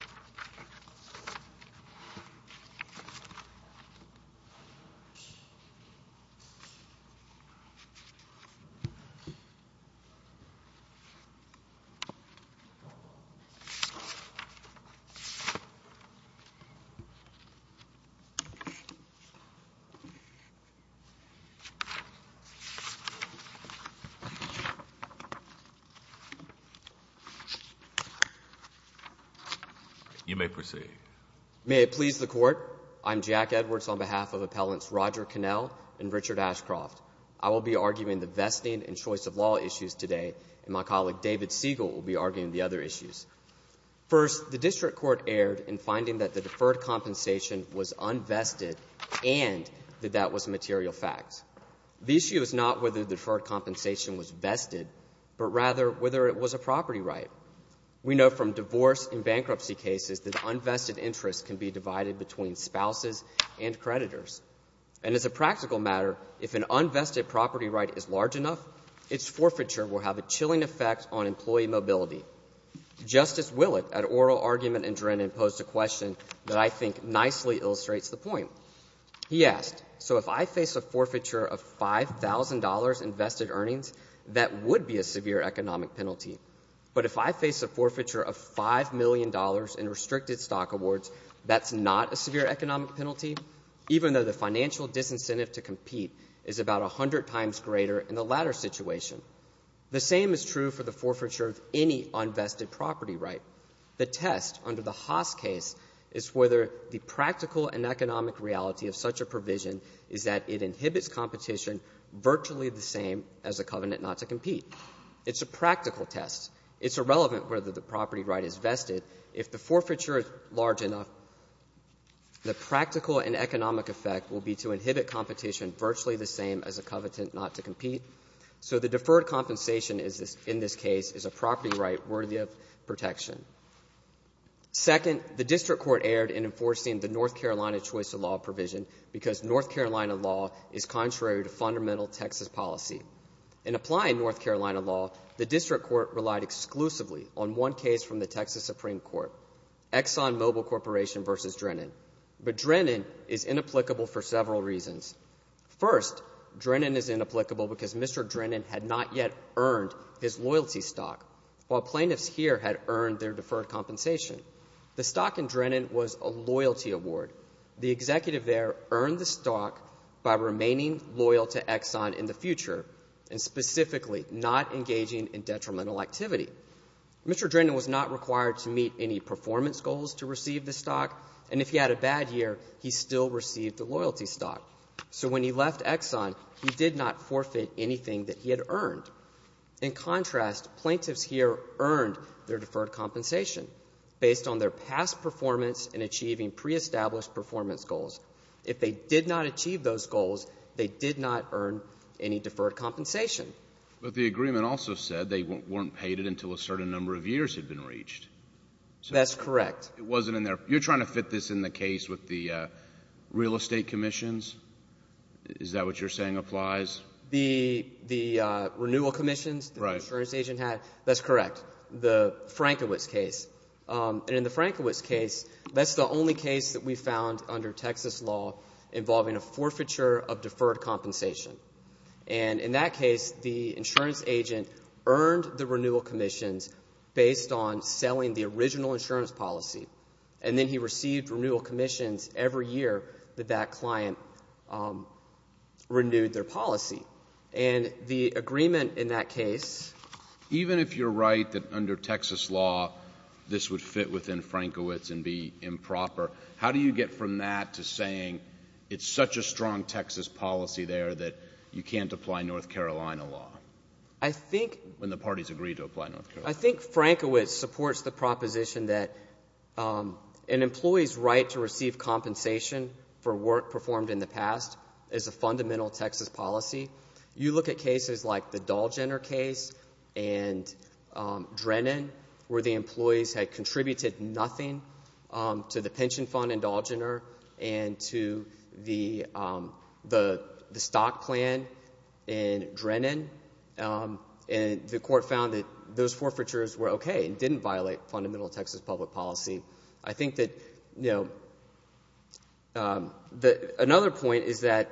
al. You may proceed. May it please the Court, I am Jack Edwards on behalf of Appellants Roger Connell and Richard Ashcroft. I will be arguing the vesting and choice of law issues today, and my colleague David Siegel will be arguing the other issues. First, the District Court erred in finding that the deferred compensation was unvested and that that was a material fact. The issue is not whether the deferred compensation was vested, but rather whether it was a property right. We know from divorce and bankruptcy cases that unvested interests can be divided between spouses and creditors. And as a practical matter, if an unvested property right is large enough, its forfeiture will have a chilling effect on employee mobility. Justice Willett at oral argument in Drennan posed a question that I think nicely illustrates the point. He asked, so if I face a forfeiture of $5,000 in vested earnings, that would be a severe economic penalty. But if I face a forfeiture of $5 million in restricted stock awards, that's not a severe economic penalty, even though the financial disincentive to compete is about 100 times greater in the latter situation. The same is true for the forfeiture of any unvested property right. The test under the Haas case is whether the practical and economic reality of such a provision is that it inhibits competition virtually the same as a covenant not to compete. It's a practical test. It's irrelevant whether the property right is vested. If the forfeiture is large enough, the practical and economic effect will be to inhibit competition virtually the same as a covenant not to compete. So the deferred compensation is, in this case, is a property right worthy of protection. Second, the district court erred in enforcing the North Carolina choice of law provision because North Carolina law is contrary to fundamental Texas policy. In applying North Carolina law, the district court relied exclusively on one case from the Texas Supreme Court, ExxonMobil Corporation v. Drennan. But Drennan is inapplicable for several reasons. First, Drennan is inapplicable because Mr. Drennan had not yet earned his loyalty stock, while plaintiffs here had earned their deferred compensation. The stock in Drennan was a loyalty award. The executive there earned the stock by remaining loyal to Exxon in the future and specifically not engaging in detrimental activity. Mr. Drennan was not required to meet any performance goals to receive the stock. And if he had a bad year, he still received the loyalty stock. So when he left Exxon, he did not forfeit anything that he had earned. In contrast, plaintiffs here earned their deferred compensation based on their past performance in achieving pre-established performance goals. If they did not achieve those goals, they did not earn any deferred compensation. But the agreement also said they weren't paid it until a certain number of years had been reached. That's correct. It wasn't in there. You're trying to fit this in the case with the real estate commissions? Is that what you're saying applies? The renewal commissions the insurance agent had? That's correct. The Frankowitz case. And in the Frankowitz case, that's the only case that we found under Texas law involving a forfeiture of deferred compensation. And in that case, the insurance agent earned the renewal commissions based on selling the original insurance policy. And then he received renewal commissions every year that that client renewed their policy. And the agreement in that case. Even if you're right that under Texas law, this would fit within Frankowitz and be improper, how do you get from that to saying it's such a strong Texas policy there that you can't apply North Carolina law? I think. When the parties agreed to apply North Carolina. I think Frankowitz supports the proposition that an employee's right to receive compensation for work performed in the past is a fundamental Texas policy. You look at cases like the Dallgener case and Drennan, where the employees had contributed nothing to the pension fund in Dallgener and to the stock plan in Drennan. And the court found that those forfeitures were OK and didn't violate fundamental Texas public policy. I think that, you know. Another point is that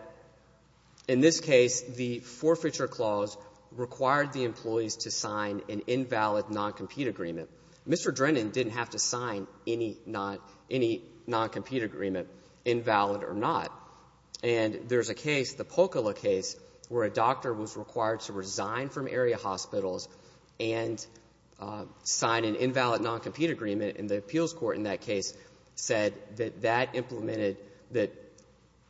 in this case, the forfeiture clause required the employees to sign an invalid non-compete agreement. Mr. Drennan didn't have to sign any not any non-compete agreement, invalid or not. And there's a case, the Pokala case, where a doctor was required to resign from area hospitals and sign an invalid non-compete agreement. And the appeals court in that case said that that implemented that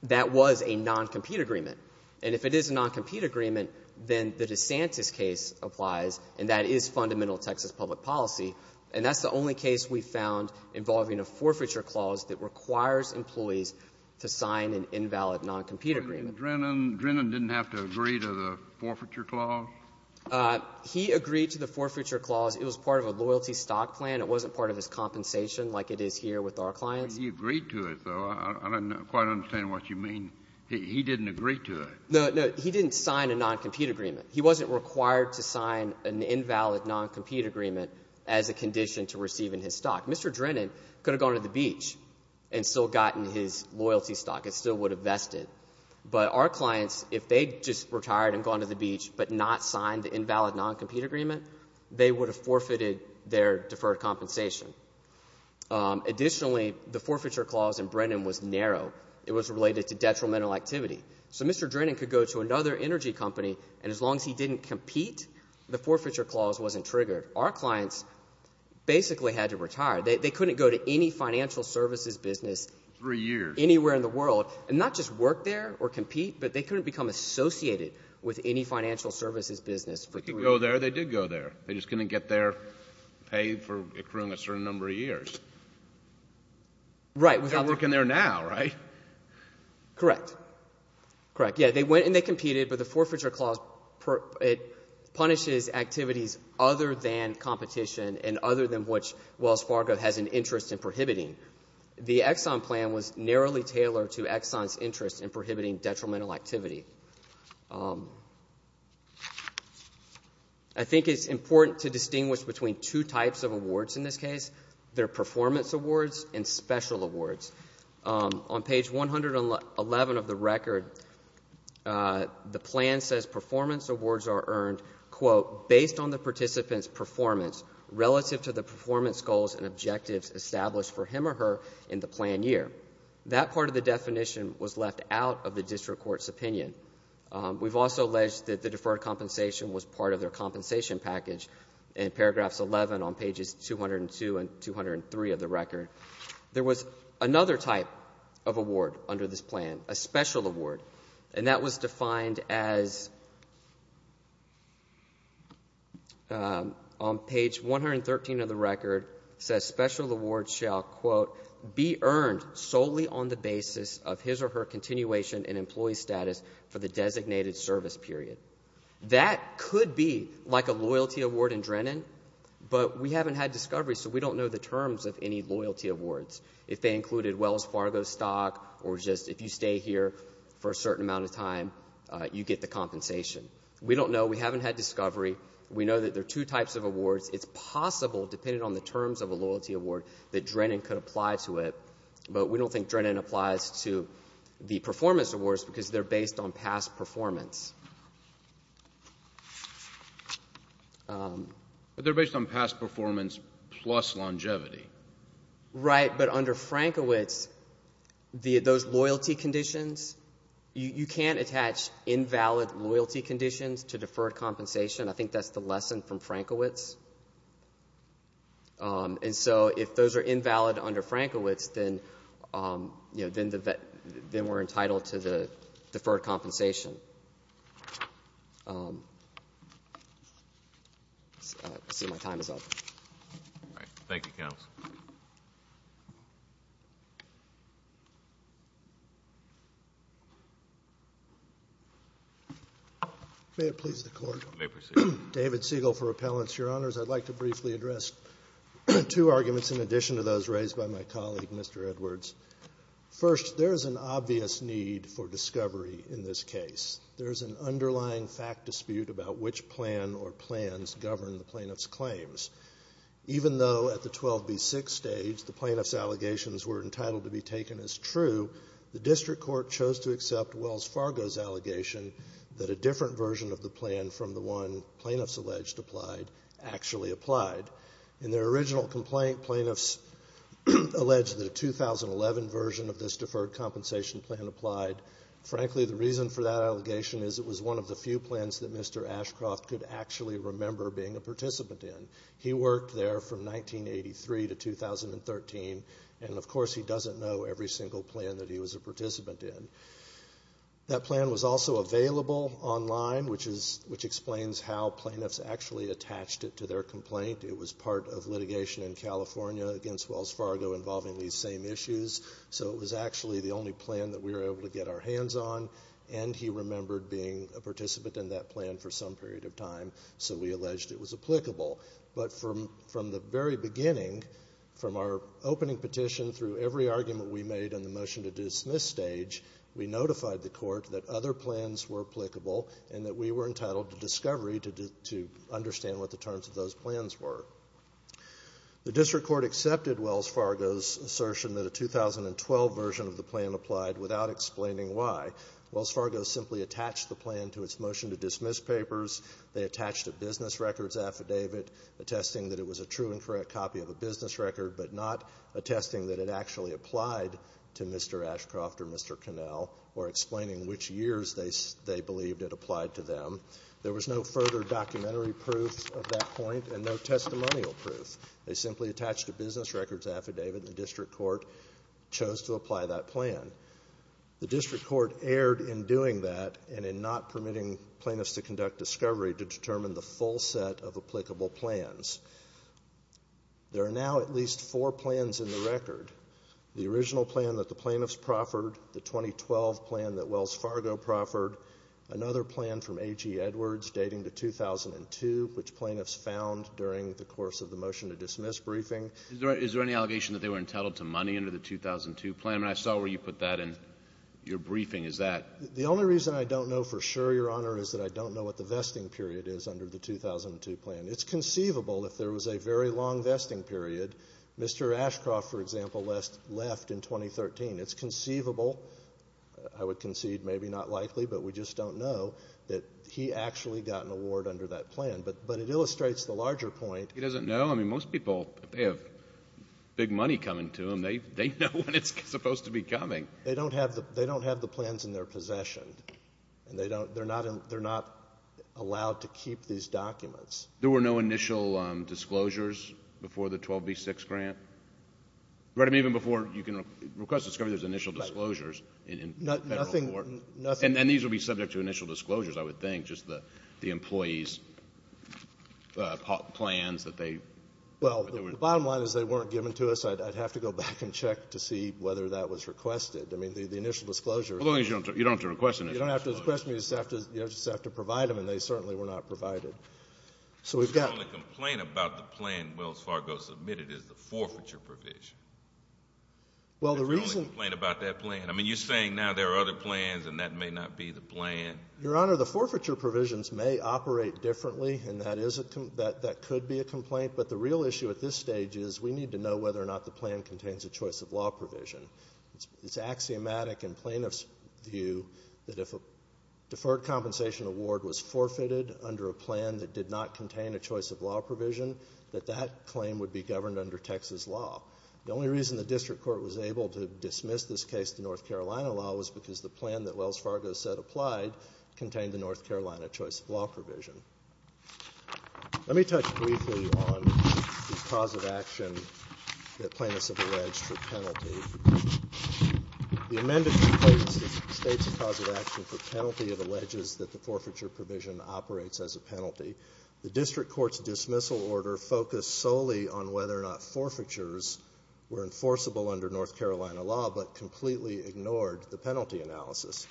that was a non-compete agreement. And if it is a non-compete agreement, then the DeSantis case applies, and that is fundamental Texas public policy. And that's the only case we found involving a forfeiture clause that requires employees to sign an invalid non-compete agreement. Drennan didn't have to agree to the forfeiture clause? He agreed to the forfeiture clause. It was part of a loyalty stock plan. It wasn't part of his compensation like it is here with our clients. He agreed to it, though. I don't quite understand what you mean. He didn't agree to it. No, no. He didn't sign a non-compete agreement. He wasn't required to sign an invalid non-compete agreement as a condition to receiving his stock. Mr. Drennan could have gone to the beach and still gotten his loyalty stock. It still would have vested. But our clients, if they just retired and gone to the beach but not signed the invalid non-compete agreement, they would have forfeited their deferred compensation. Additionally, the forfeiture clause in Brennan was narrow. It was related to detrimental activity. So Mr. Drennan could go to another energy company, and as long as he didn't compete, the forfeiture clause wasn't triggered. Our clients basically had to retire. They couldn't go to any financial services business anywhere in the world and not just work there or compete, but they couldn't become associated with any financial services business for the rest of their lives. They could go there. They did go there. They're just going to get their pay for accruing a certain number of years. Right. Without the ---- They're working there now, right? Correct. Correct. Yes, they went and they competed, but the forfeiture clause per ---- it punishes activities other than competition and other than which Wells Fargo has an interest in prohibiting. The Exxon plan was narrowly tailored to Exxon's interest in prohibiting detrimental activity. I think it's important to distinguish between two types of awards in this case. They're performance awards and special awards. On page 111 of the record, the plan says performance awards are earned, quote, based on the participant's performance relative to the performance goals and objectives established for him or her in the plan year. That part of the definition was left out of the district court's opinion. We've also alleged that the deferred compensation was part of their compensation package in paragraphs 11 on pages 202 and 203 of the record. There was another type of award under this plan, a special award, and that was earned solely on the basis of his or her continuation in employee status for the designated service period. That could be like a loyalty award in Drennan, but we haven't had discovery, so we don't know the terms of any loyalty awards, if they included Wells Fargo stock or just if you stay here for a certain amount of time, you get the compensation. We don't know. We haven't had discovery. We know that there are two types of awards. It's possible, depending on the terms of a But we don't think Drennan applies to the performance awards because they're based on past performance. But they're based on past performance plus longevity. Right, but under Frankowitz, those loyalty conditions, you can't attach invalid loyalty conditions to deferred compensation. I think that's the lesson from Frankowitz, then, you know, then we're entitled to the deferred compensation. I see my time is up. All right. Thank you, counsel. May it please the Court. May it please the Court. David Siegel for Appellants. Your Honors, I'd like to briefly address two arguments in addition to those raised by my colleague, Mr. Edwards. First, there is an obvious need for discovery in this case. There is an underlying fact dispute about which plan or plans govern the plaintiff's claims. Even though at the 12B6 stage the plaintiff's allegations were entitled to be taken as true, the district court chose to accept Wells Fargo's allegation that a different version of the plan from the one complaint plaintiffs alleged that a 2011 version of this deferred compensation plan applied. Frankly, the reason for that allegation is it was one of the few plans that Mr. Ashcroft could actually remember being a participant in. He worked there from 1983 to 2013, and of course he doesn't know every single plan that he was a participant in. That plan was also available online, which explains how plaintiffs actually attached it to their complaint. It was part of litigation in California against Wells Fargo involving these same issues. So it was actually the only plan that we were able to get our hands on, and he remembered being a participant in that plan for some period of time, so we alleged it was applicable. But from the very beginning, from our opening petition through every argument we made in the motion to dismiss stage, we notified the Court that other plans were applicable and that we were entitled to discovery to understand what the terms of those plans were. The district court accepted Wells Fargo's assertion that a 2012 version of the plan applied without explaining why. Wells Fargo simply attached the plan to its motion to dismiss papers. They attached a business records affidavit attesting that it was a true and correct copy of a business record, but not attesting that it actually applied to Mr. Ashcroft or Mr. Connell or explaining which years they believed it applied to them. There was no further documentary proof of that point and no testimonial proof. They simply attached a business records affidavit, and the district court chose to apply that plan. The district court erred in doing that and in not permitting plaintiffs to conduct discovery to determine the full set of applicable plans. There are now at least four plans in the record. The original plan that the plaintiffs proffered, the 2012 plan that Wells Fargo proffered, another plan from A.G. Edwards dating to 2002, which plaintiffs found during the course of the motion to dismiss briefing. Is there any allegation that they were entitled to money under the 2002 plan? I mean, I saw where you put that in your briefing. Is that? The only reason I don't know for sure, Your Honor, is that I don't know what the vesting period is under the 2002 plan. It's conceivable if there was a very long vesting period, Mr. Ashcroft, for example, left in 2013. It's conceivable. I would concede maybe not likely, but we just don't know that he actually got an award under that plan. But it illustrates the larger point. He doesn't know? I mean, most people, they have big money coming to them. They know when it's supposed to be coming. They don't have the plans in their possession, and they don't, they're not, they're not allowed to keep these documents. There were no initial disclosures before the 12B6 grant? Right? I mean, even before you can request disclosures, there's initial disclosures in Federal court. Nothing, nothing. And these would be subject to initial disclosures, I would think, just the employees' plans that they. Well, the bottom line is they weren't given to us. I'd have to go back and check to see whether that was requested. I mean, the initial disclosures. As long as you don't have to request an initial disclosure. You don't have to request, you just have to provide them, and they certainly were not provided. So we've got. The only complaint about the plan Wells Fargo submitted is the forfeiture provision. Well, the reason. The only complaint about that plan. I mean, you're saying now there are other plans and that may not be the plan. Your Honor, the forfeiture provisions may operate differently, and that is a complaint that could be a complaint, but the real issue at this stage is we need to know whether or not the plan contains a choice of law provision. It's axiomatic in plaintiff's view that if a deferred compensation award was forfeited under a plan that did not contain a choice of law provision, that that claim would be governed under Texas law. The only reason the district court was able to dismiss this case to North Carolina law was because the plan that Wells Fargo said applied contained the North Carolina choice of law provision. Let me touch briefly on the cause of action that plaintiffs have alleged for penalty. The amended complaint states the cause of action for penalty. It alleges that the forfeiture provision operates as a penalty. The district court's dismissal order focused solely on whether or not forfeitures were enforceable under North Carolina law, but completely ignored the penalty analysis.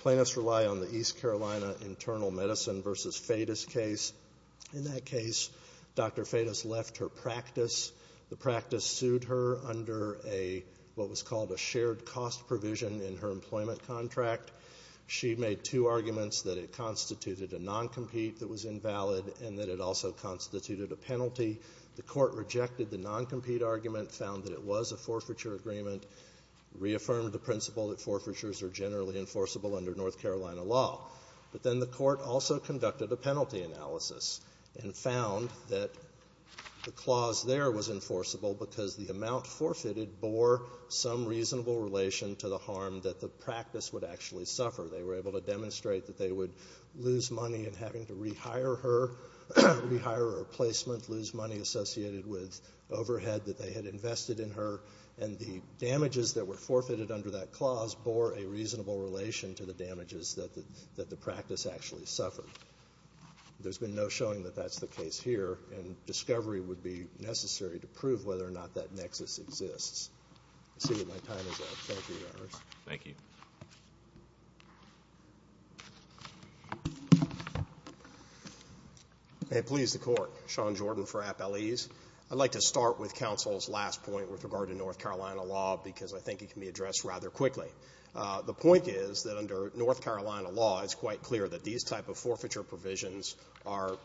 Plaintiffs rely on the East Carolina Internal Medicine v. Fetus case. In that case, Dr. Fetus left her practice. The practice sued her under a, what was called a shared cost provision in her employment contract. She made two arguments, that it constituted a non-compete that was invalid and that it also constituted a penalty. The court rejected the non-compete argument, found that it was a forfeiture agreement, reaffirmed the principle that forfeitures are generally enforceable under North Carolina law. But then the court also conducted a penalty analysis and found that the clause there was enforceable because the amount forfeited bore some reasonable relation to the harm that the practice would actually suffer. They were able to demonstrate that they would lose money in having to rehire her, rehire her replacement, lose money associated with overhead that they had invested in her, and the damages that were forfeited under that clause bore a reasonable relation to the damages that the practice actually suffered. There's been no showing that that's the case here, and discovery would be necessary to prove whether or not that nexus exists. I see that my time is up. Thank you, Your Honors. Thank you. May it please the Court. Sean Jordan for Appellees. I'd like to start with counsel's last point with regard to North Carolina law because I think it can be addressed rather quickly. The point is that under North Carolina law, it's quite clear that these type of forfeiture provisions are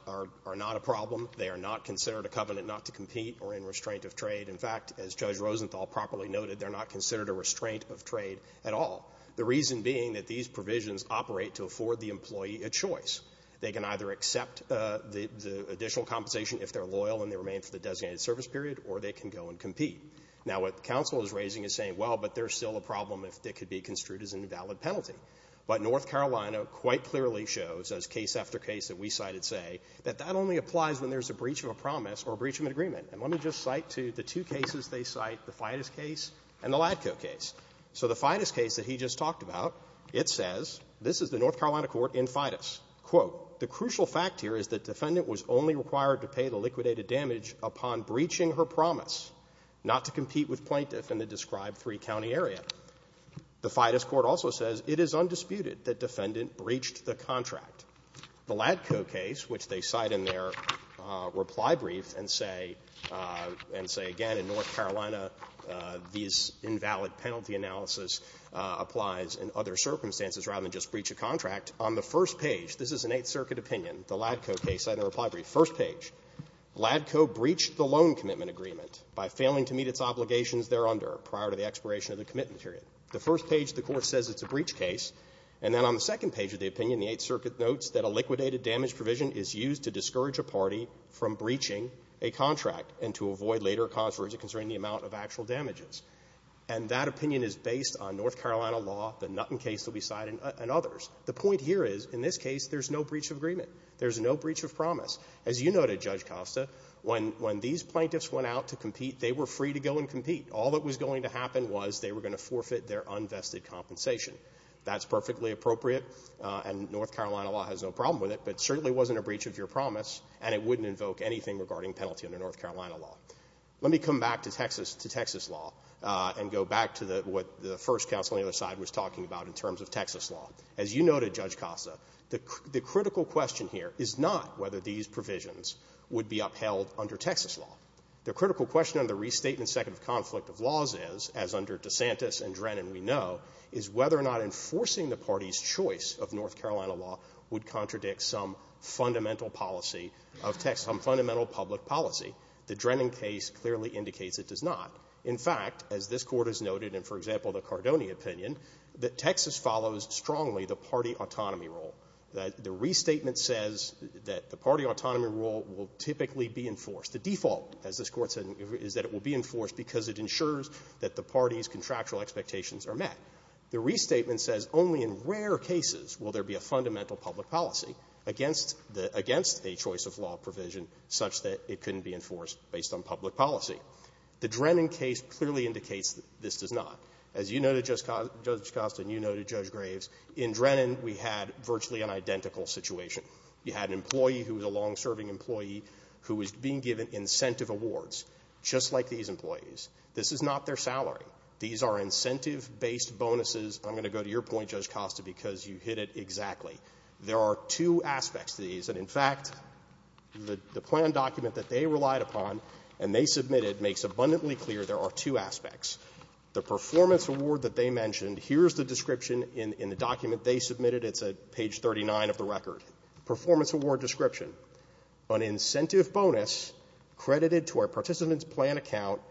not a problem. They are not considered a covenant not to compete or in restraint of trade. In fact, as Judge Rosenthal properly noted, they're not considered a restraint of trade at all, the reason being that these provisions operate to afford the employee a choice. They can either accept the additional compensation if they're loyal and they remain for the designated service period, or they can go and compete. Now, what counsel is raising is saying, well, but there's still a problem if it could be construed as an invalid penalty. But North Carolina quite clearly shows, as case after case that we cited say, that that only applies when there's a breach of a promise or a breach of an agreement. And let me just cite to the two cases they cite, the FIDUS case and the LATCO case. So the FIDUS case that he just talked about, it says, this is the North Carolina court in FIDUS. Quote, the crucial fact here is that defendant was only required to pay the liquidated damage upon breaching her promise not to compete with plaintiff in the described three-county area. The FIDUS court also says it is undisputed that defendant breached the contract. The LATCO case, which they cite in their reply brief and say and say again in North Carolina these invalid penalty analysis applies in other circumstances rather than just breach a contract, on the first page, this is an Eighth Circuit opinion. LATCO breached the loan commitment agreement by failing to meet its obligations thereunder prior to the expiration of the commitment period. The first page of the court says it's a breach case. And then on the second page of the opinion, the Eighth Circuit notes that a liquidated damage provision is used to discourage a party from breaching a contract and to avoid later a controversy concerning the amount of actual damages. And that opinion is based on North Carolina law, the Nutten case that we cite, and others. The point here is in this case there's no breach of agreement. There's no breach of promise. As you noted, Judge Costa, when these plaintiffs went out to compete, they were free to go and compete. All that was going to happen was they were going to forfeit their unvested compensation. That's perfectly appropriate, and North Carolina law has no problem with it, but certainly wasn't a breach of your promise, and it wouldn't invoke anything regarding penalty under North Carolina law. Let me come back to Texas law and go back to what the first counsel on the other side was talking about in terms of Texas law. As you noted, Judge Costa, the critical question here is not whether these provisions would be upheld under Texas law. The critical question under the Restatement Second of Conflict of Laws is, as under DeSantis and Drennan we know, is whether or not enforcing the party's choice of North Carolina law would contradict some fundamental policy of Texas, some fundamental public policy. The Drennan case clearly indicates it does not. In fact, as this Court has noted in, for example, the Cardoni opinion, that Texas follows strongly the party autonomy rule, that the Restatement says that the party autonomy rule will typically be enforced. The default, as this Court said, is that it will be enforced because it ensures that the party's contractual expectations are met. The Restatement says only in rare cases will there be a fundamental public policy against the – against a choice of law provision such that it couldn't be enforced based on public policy. The Drennan case clearly indicates that this does not. As you noted, Judge Costa, and you noted, Judge Graves, in Drennan we had virtually an identical situation. You had an employee who was a long-serving employee who was being given incentive awards, just like these employees. This is not their salary. These are incentive-based bonuses. I'm going to go to your point, Judge Costa, because you hit it exactly. There are two aspects to these. And in fact, the plan document that they relied upon and they submitted makes abundantly clear there are two aspects. The performance award that they mentioned here is the description in the document they submitted. It's at page 39 of the record. Performance award description, an incentive bonus credited to our participant's plan account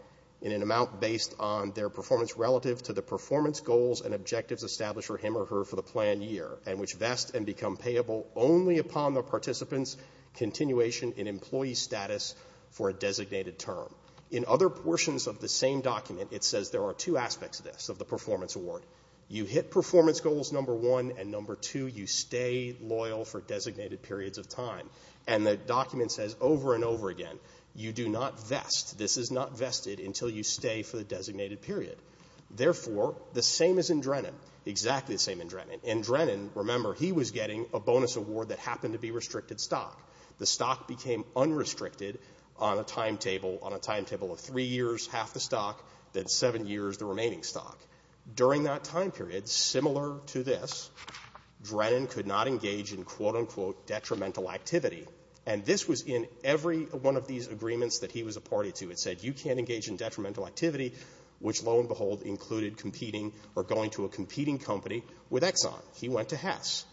in an amount based on their performance relative to the performance goals and objectives established for him or her for the plan year, and which vest and become payable only upon the participant's continuation in employee status for a designated term. In other portions of the same document, it says there are two aspects of this, of the performance award. You hit performance goals, number one, and number two, you stay loyal for designated periods of time. And the document says over and over again, you do not vest, this is not vested until you stay for the designated period. Therefore, the same as in Drennan, exactly the same in Drennan. In Drennan, remember, he was getting a bonus award that happened to be restricted stock. The stock became unrestricted on a timetable, on a timetable of three years, half the stock, then seven years, the remaining stock. During that time period, similar to this, Drennan could not engage in, quote, unquote, detrimental activity. And this was in every one of these agreements that he was a party to. It said you can't engage in detrimental activity, which lo and behold included competing or going to a competing company with Exxon. He went to Hess.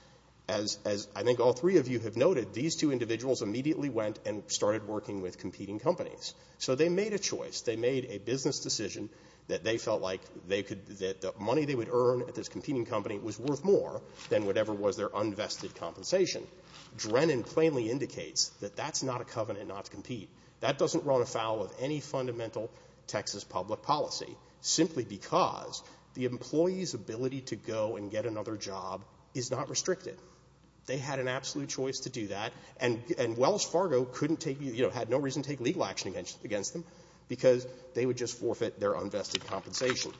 As I think all three of you have noted, these two companies actually went and started working with competing companies. So they made a choice. They made a business decision that they felt like they could, that the money they would earn at this competing company was worth more than whatever was their unvested compensation. Drennan plainly indicates that that's not a covenant not to compete. That doesn't run afoul of any fundamental Texas public policy, simply because the employee's ability to go and get another job is not restricted. They had an absolute choice to do that. And Wells Fargo couldn't take, you know, had no reason to take legal action against them because they would just forfeit their unvested compensation.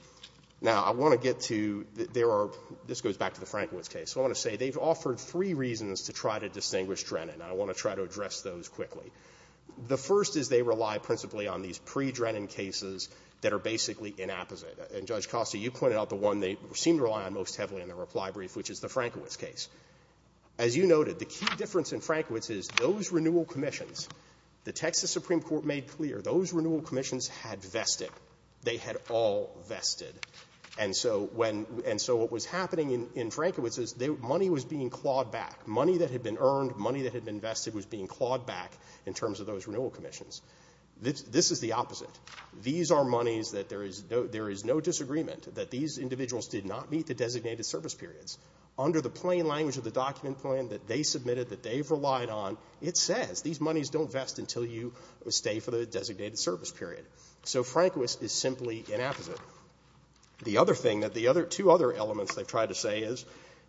Now, I want to get to there are – this goes back to the Frankowitz case. So I want to say they've offered three reasons to try to distinguish Drennan, and I want to try to address those quickly. The first is they rely principally on these pre-Drennan cases that are basically inapposite. And, Judge Costa, you pointed out the one they seem to rely most heavily on in their reply brief, which is the Frankowitz case. As you noted, the key difference in Frankowitz is those renewal commissions, the Texas Supreme Court made clear those renewal commissions had vested. They had all vested. And so when – and so what was happening in Frankowitz is money was being clawed back. Money that had been earned, money that had been vested was being clawed back in terms of those renewal commissions. This is the opposite. These are monies that there is no – there is no disagreement that these individuals did not meet the designated service periods. Under the plain language of the document plan that they submitted, that they've relied on, it says these monies don't vest until you stay for the designated service period. So Frankowitz is simply inapposite. The other thing that the other – two other elements they've tried to say is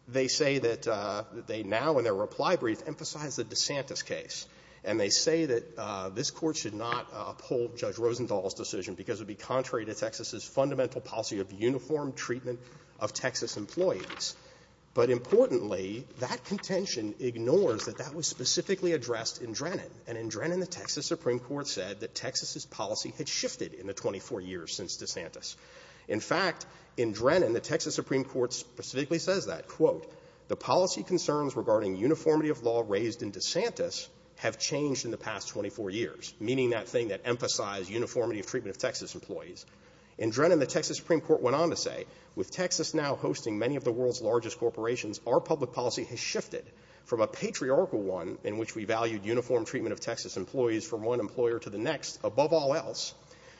they say that they now in their reply brief emphasize the DeSantis case. And they say that this Court should not uphold Judge Rosenthal's decision because it would be contrary to Texas's fundamental policy of uniform treatment of Texas employees. But importantly, that contention ignores that that was specifically addressed in Drennan. And in Drennan, the Texas Supreme Court said that Texas's policy had shifted in the 24 years since DeSantis. In fact, in Drennan, the Texas Supreme Court went on to say, with Texas now hosting many of the world's largest corporations, our public policy has shifted from a patriarchal one in which we valued uniform treatment of Texas employees from one employer to the next, above all else,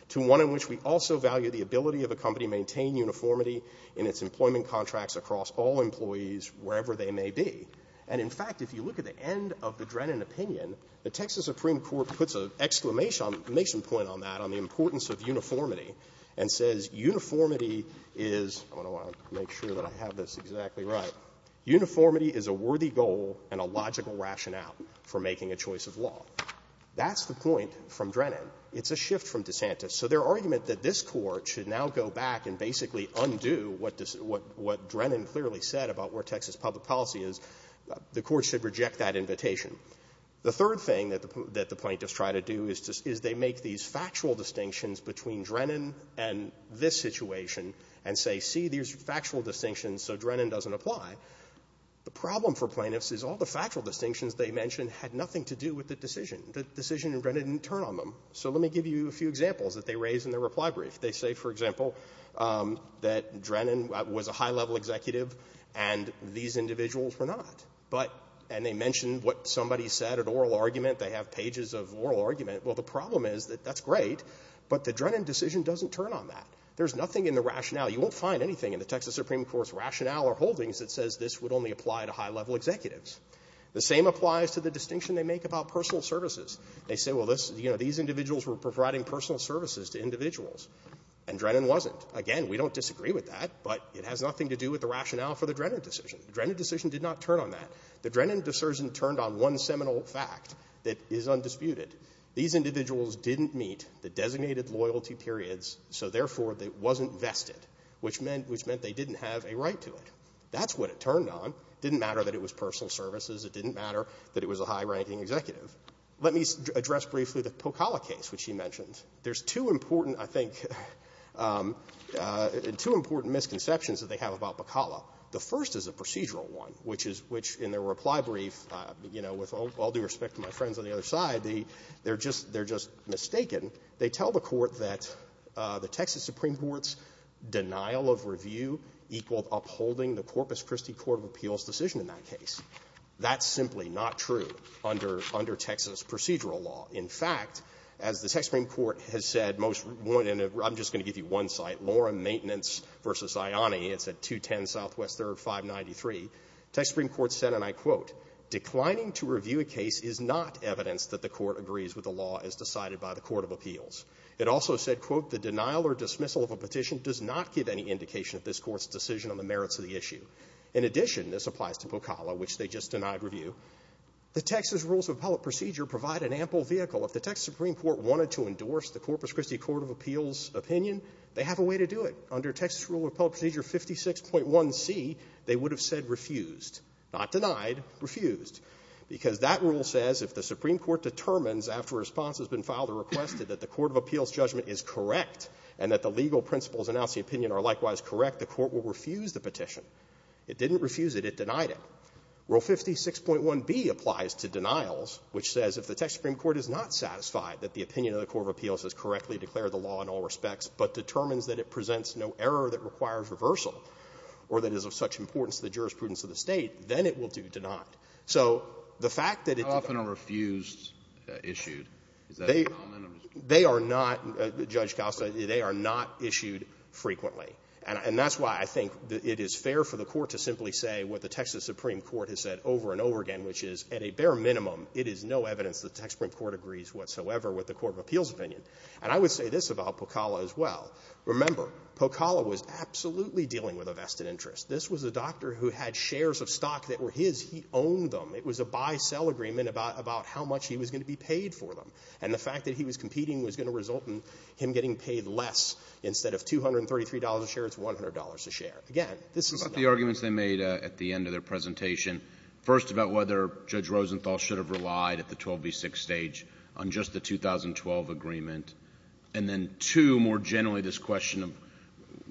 to one in which we also value the ability of a company to maintain uniformity in its employment contracts across all employees wherever they may be. And in fact, if you look at the end of the Drennan opinion, the Texas Supreme Court puts an exclamation point on that on the importance of uniformity and says uniformity is – I want to make sure that I have this exactly right – uniformity is a worthy goal and a logical rationale for making a choice of law. That's the point from Drennan. It's a shift from DeSantis. So their argument that this Court should now go back and basically undo what Drennan clearly said about where Texas public policy is, the Court should reject that invitation. The third thing that the plaintiffs try to do is they make these factual distinctions between Drennan and this situation and say, see, there's factual distinctions, so Drennan doesn't apply. The problem for plaintiffs is all the factual distinctions they mention had nothing to do with the decision. The decision in Drennan didn't turn on them. So let me give you a few examples that they raise in their reply brief. They say, for example, that Drennan was a high-level executive and these individuals were not. But – and they mention what somebody said at oral argument. They have pages of oral argument. Well, the problem is that that's great, but the Drennan decision doesn't turn on that. There's nothing in the rationale – you won't find anything in the Texas Supreme Court's rationale or holdings that says this would only apply to high-level executives. The same applies to the distinction they make about personal services. They say, well, this – you know, these individuals were providing personal services to individuals, and Drennan wasn't. Again, we don't disagree with that, but it has nothing to do with the rationale for the Drennan decision. The Drennan decision did not turn on that. The Drennan decision turned on one seminal fact that is undisputed. These individuals didn't meet the designated loyalty periods, so therefore, it wasn't vested, which meant – which meant they didn't have a right to it. That's what it turned on. It didn't matter that it was personal services. It didn't matter that it was a high-ranking executive. Let me address briefly the Pocalla case, which you mentioned. There's two important, I think – two important misconceptions that they have about Pocalla. The first is a procedural one, which is – which, in their reply brief, you know, with all due respect to my friends on the other side, they're just – they're just mistaken. They tell the Court that the Texas Supreme Court's denial of review equaled upholding the Corpus Christi court of appeals decision in that case. That's simply not true under – under Texas procedural law. In fact, as the Texas Supreme Court has said most – I'm just going to give you one site, Loren Maintenance v. Ziani. It's at 210 Southwest 3rd, 593. The Supreme Court said, and I quote, declining to review a case is not evidence that the Court agrees with the law as decided by the court of appeals. It also said, quote, the denial or dismissal of a petition does not give any indication of this Court's decision on the merits of the issue. In addition, this applies to Pocalla, which they just denied review, the Texas Rules of Appellate Procedure provide an ample vehicle. If the Texas Supreme Court wanted to endorse the Corpus Christi court of appeals opinion, they have a way to do it. Under Texas Rule of Appellate Procedure 56.1c, they would have said refused, not denied, refused, because that rule says if the Supreme Court determines after a response has been filed or requested that the court of appeals judgment is correct and that the legal principles announcing opinion are likewise correct, the court will refuse the petition. It didn't refuse it. It denied it. Rule 56.1b applies to denials, which says if the Texas Supreme Court is not satisfied that the opinion of the court of appeals has correctly declared the law in all respects but determines that it presents no error that requires reversal or that is of such importance to the jurisprudence of the State, then it will do denied. So the fact that it did not do denied. Kennedy. How often are refused issued? Is that common? They are not, Judge Costa, they are not issued frequently. And that's why I think it is fair for the Court to simply say what the Texas Supreme Court has said over and over again, which is at a bare minimum, it is no evidence the Texas Supreme Court agrees whatsoever with the court of appeals opinion. And I would say this about Pocalla as well. Remember, Pocalla was absolutely dealing with a vested interest. This was a doctor who had shares of stock that were his. He owned them. It was a buy-sell agreement about how much he was going to be paid for them. And the fact that he was competing was going to result in him getting paid less. Instead of $233 a share, it's $100 a share. Again, this is not an argument. What about the arguments they made at the end of their presentation? First, about whether Judge Rosenthal should have relied at the 12B6 stage on just the 2012 agreement. And then two, more generally, this question of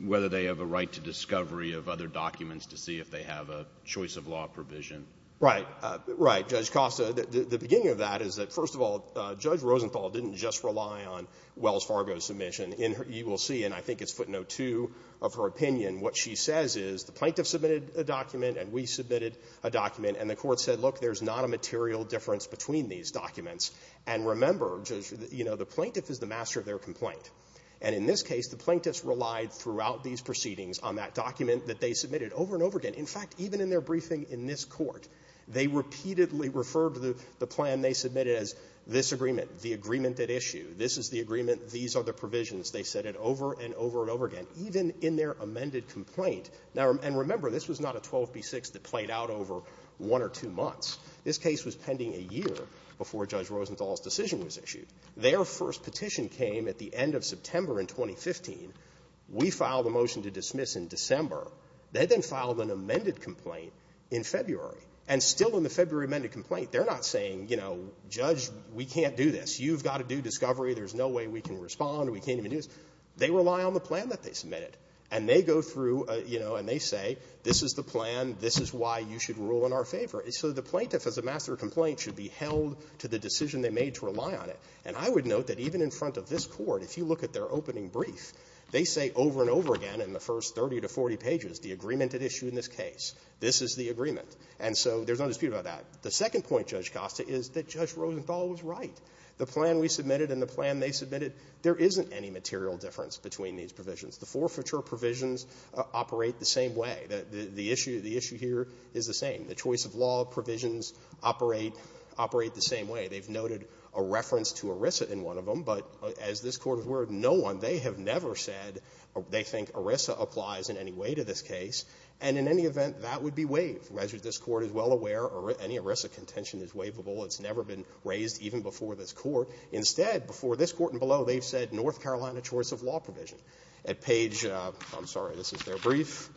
whether they have a right to discovery of other documents to see if they have a choice of law provision. Right. Right. Judge Costa, the beginning of that is that, first of all, Judge Rosenthal didn't just rely on Wells Fargo's submission. And you will see, and I think it's footnote 2 of her opinion, what she says is the plaintiff submitted a document and we submitted a document, and the Court said, look, there's not a material difference between these documents. And remember, Judge, you know, the plaintiff is the master of their complaint. And in this case, the plaintiffs relied throughout these proceedings on that document that they submitted over and over again. In fact, even in their briefing in this Court, they repeatedly referred to the plan they submitted as this agreement, the agreement at issue. This is the agreement. These are the provisions. They said it over and over and over again, even in their amended complaint. Now, and remember, this was not a 12B6 that played out over one or two months. This case was pending a year before Judge Rosenthal's decision was issued. Their first petition came at the end of September in 2015. We filed a motion to dismiss in December. They then filed an amended complaint in February. And still in the February amended complaint, they're not saying, you know, Judge, we can't do this. You've got to do discovery. There's no way we can respond. We can't even do this. They rely on the plan that they submitted. And they go through, you know, and they say, this is the plan. This is why you should rule in our favor. So the plaintiff as a master of complaint should be held to the decision they made to rely on it. And I would note that even in front of this Court, if you look at their opening brief, they say over and over again in the first 30 to 40 pages, the agreement This is the agreement. And so there's no dispute about that. The second point, Judge Costa, is that Judge Rosenthal was right. The plan we submitted and the plan they submitted, there isn't any material difference between these provisions. The forfeiture provisions operate the same way. The issue here is the same. The choice of law provisions operate the same way. They've noted a reference to ERISA in one of them, but as this Court has worded, no one, they have never said they think ERISA applies in any way to this case. And in any event, that would be waived. As this Court is well aware, any ERISA contention is waivable. It's never been raised even before this Court. Instead, before this Court and below, they've said North Carolina choice of law provision. At page, I'm sorry, this is their brief,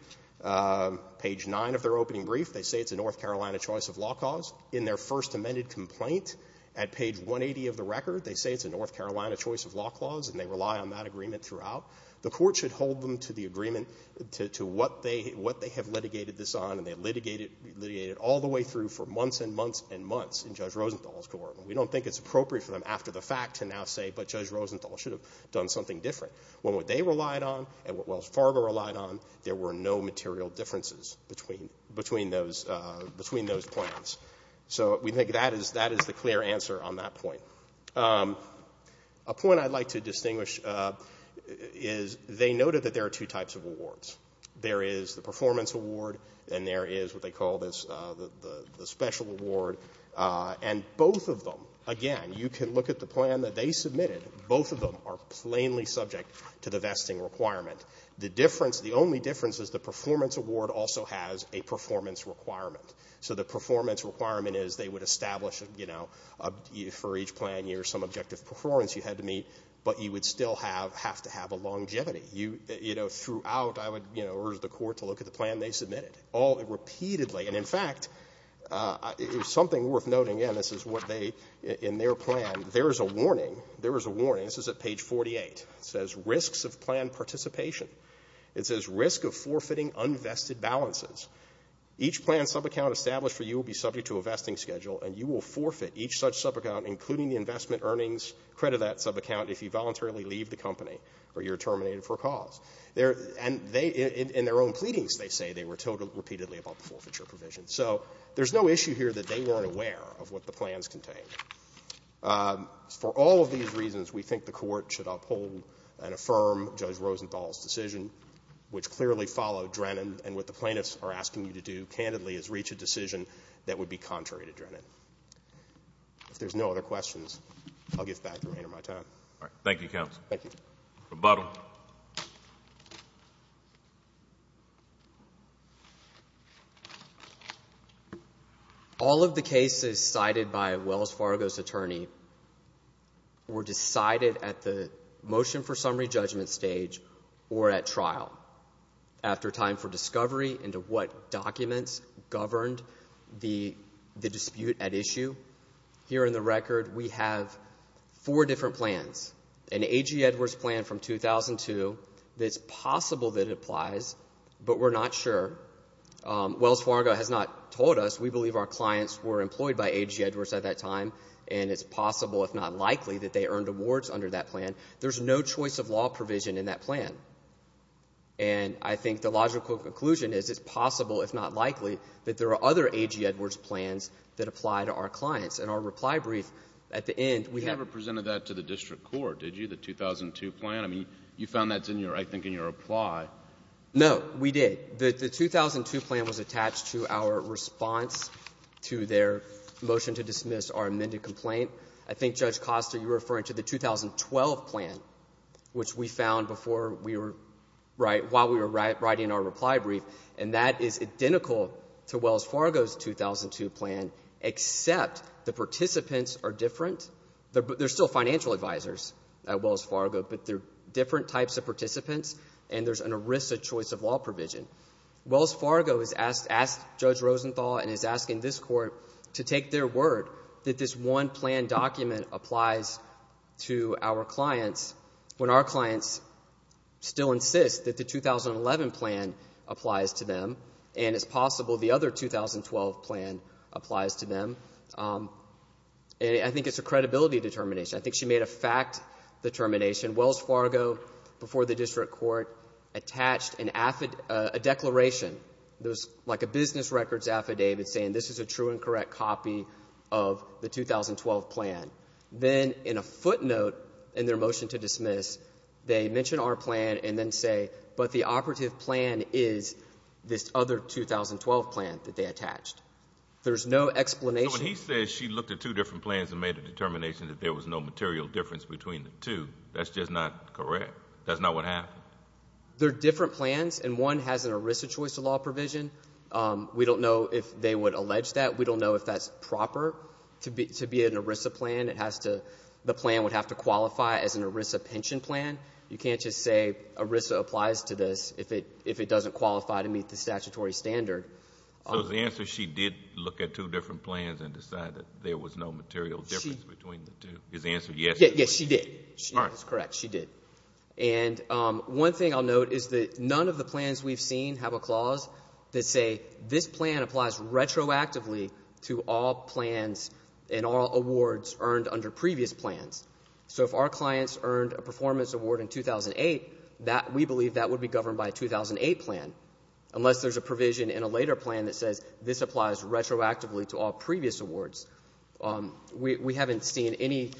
page 9 of their opening brief, they say it's a North Carolina choice of law clause. In their first amended complaint, at page 180 of the record, they say it's a North Carolina choice of law clause, and they rely on that agreement throughout. The Court should hold them to the agreement, to what they have litigated this on, and they litigated it all the way through for months and months and months in Judge Rosenthal's court. And we don't think it's appropriate for them after the fact to now say, but Judge Rosenthal should have done something different, when what they relied on and what Wells Fargo relied on, there were no material differences between those plans. So we think that is the clear answer on that point. A point I'd like to distinguish is they noted that there are two types of awards. There is the performance award, and there is what they call the special award. And both of them, again, you can look at the plan that they submitted, both of them are plainly subject to the vesting requirement. The difference, the only difference is the performance award also has a performance requirement. So the performance requirement is they would establish, you know, for each plan year some objective performance you had to meet, but you would still have to have a longevity. You know, throughout, I would, you know, urge the Court to look at the plan they submitted, all repeatedly. And, in fact, something worth noting, again, this is what they, in their plan, there is a warning. There is a warning. This is at page 48. It says risks of plan participation. It says risk of forfeiting unvested balances. Each plan subaccount established for you will be subject to a vesting schedule, and you will forfeit each such subaccount, including the investment earnings, credit that subaccount if you voluntarily leave the company or you're terminated for a cause. And they, in their own pleadings, they say they were told repeatedly about the forfeiture provision. So there's no issue here that they weren't aware of what the plans contained. For all of these reasons, we think the Court should uphold and affirm Judge Rosenthal's decision, which clearly followed Drennan and what the plaintiffs are asking you to do, candidly, is reach a decision that would be contrary to Drennan. If there's no other questions, I'll give back the remainder of my time. All right. Thank you, counsel. Thank you. Rebuttal. All of the cases cited by Wells Fargo's attorney were decided at the motion for dispute at issue. Here in the record, we have four different plans, an A.G. Edwards plan from 2002. It's possible that it applies, but we're not sure. Wells Fargo has not told us. We believe our clients were employed by A.G. Edwards at that time, and it's possible, if not likely, that they earned awards under that plan. There's no choice of law provision in that plan. And I think the logical conclusion is it's possible, if not likely, that there are other A.G. Edwards plans that apply to our clients. And our reply brief at the end, we have You never presented that to the district court, did you, the 2002 plan? I mean, you found that's in your, I think, in your reply. No, we did. The 2002 plan was attached to our response to their motion to dismiss our amended complaint. I think, Judge Costa, you're referring to the 2012 plan, which we found before we were, right, while we were writing our reply brief, and that is identical to Wells Fargo's 2002 plan, except the participants are different. They're still financial advisors at Wells Fargo, but they're different types of participants, and there's an ERISA choice of law provision. Wells Fargo has asked Judge Rosenthal and is asking this court to take their word that this one plan document applies to our clients when our clients still insist that the 2011 plan applies to them, and it's possible the other 2012 plan applies to them. And I think it's a credibility determination. I think she made a fact determination. Wells Fargo, before the district court, attached a declaration, like a business records affidavit, saying this is a true and correct copy of the 2012 plan. Then, in a footnote in their motion to dismiss, they mention our plan and then say, but the operative plan is this other 2012 plan that they attached. There's no explanation. So when he says she looked at two different plans and made a determination that there was no material difference between the two, that's just not correct? That's not what happened? They're different plans, and one has an ERISA choice of law provision. We don't know if they would allege that. We don't know if that's proper to be an ERISA plan. It has to, the plan would have to qualify as an ERISA pension plan. You can't just say ERISA applies to this if it doesn't qualify to meet the statutory standard. So the answer is she did look at two different plans and decide that there was none of the plans we've seen have a clause that say this plan applies retroactively to all plans and all awards earned under previous plans. So if our clients earned a performance award in 2008, we believe that would be governed by a 2008 plan, unless there's a provision in a later plan that says this applies retroactively to all previous awards. We haven't seen any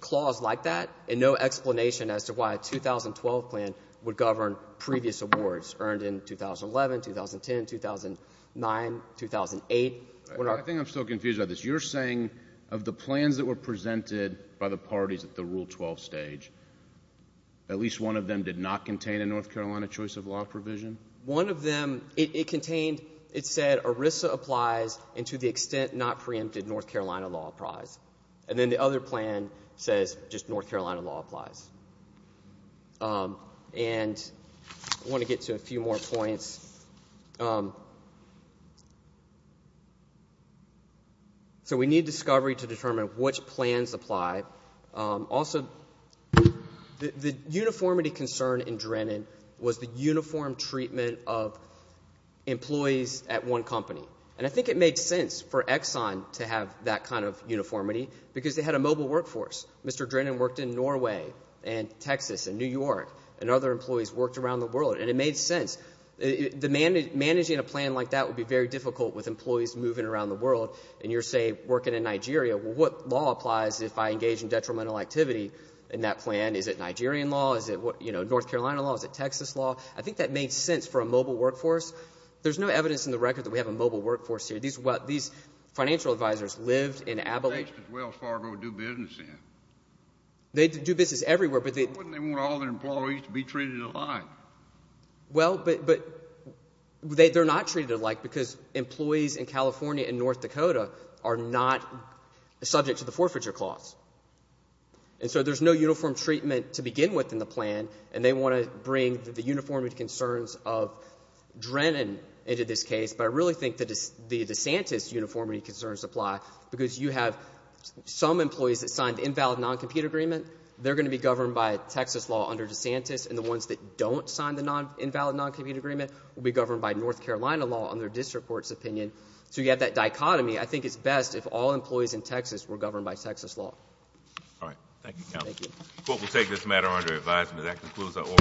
clause like that and no explanation as to why a 2012 plan would govern previous awards earned in 2011, 2010, 2009, 2008. I think I'm still confused about this. You're saying of the plans that were presented by the parties at the Rule 12 stage, at least one of them did not contain a North Carolina choice of law provision? One of them, it contained, it said ERISA applies and to the extent not preempted North Carolina law applies. And then the other plan says just North Carolina law applies. And I want to get to a few more points. So we need discovery to determine which plans apply. Also, the uniformity concern in Drennan was the uniform treatment of employees at one company. And I think it made sense for Exxon to have that kind of uniformity because they had a mobile workforce. Mr. Drennan worked in Norway and Texas and New York and other employees worked around the world. And it made sense. Managing a plan like that would be very difficult with employees moving around the world. And you're, say, working in Nigeria. Well, what law applies if I engage in detrimental activity in that plan? Is it Nigerian law? Is it, you know, North Carolina law? Is it Texas law? I think that made sense for a mobile workforce. There's no evidence in the record that we have a mobile workforce here. These financial advisors lived in Abilene. They lived in Wells Fargo to do business in. They do business everywhere, but they... Why wouldn't they want all their employees to be treated alike? Well, but they're not treated alike because employees in California and North Dakota are not subject to the forfeiture clause. And so there's no uniform treatment to begin with in the plan, and they want to bring the uniformity concerns of Drennan into this case. But I really think the DeSantis uniformity concerns apply because you have some employees that signed the invalid noncompete agreement. They're going to be governed by Texas law under DeSantis. And the ones that don't sign the invalid noncompete agreement will be governed by North Carolina law under district court's opinion. So you have that dichotomy. I think it's best if all employees in Texas were governed by Texas law. All right. Thank you, Counsel. Thank you. The court will take this matter under advisement. That concludes our order.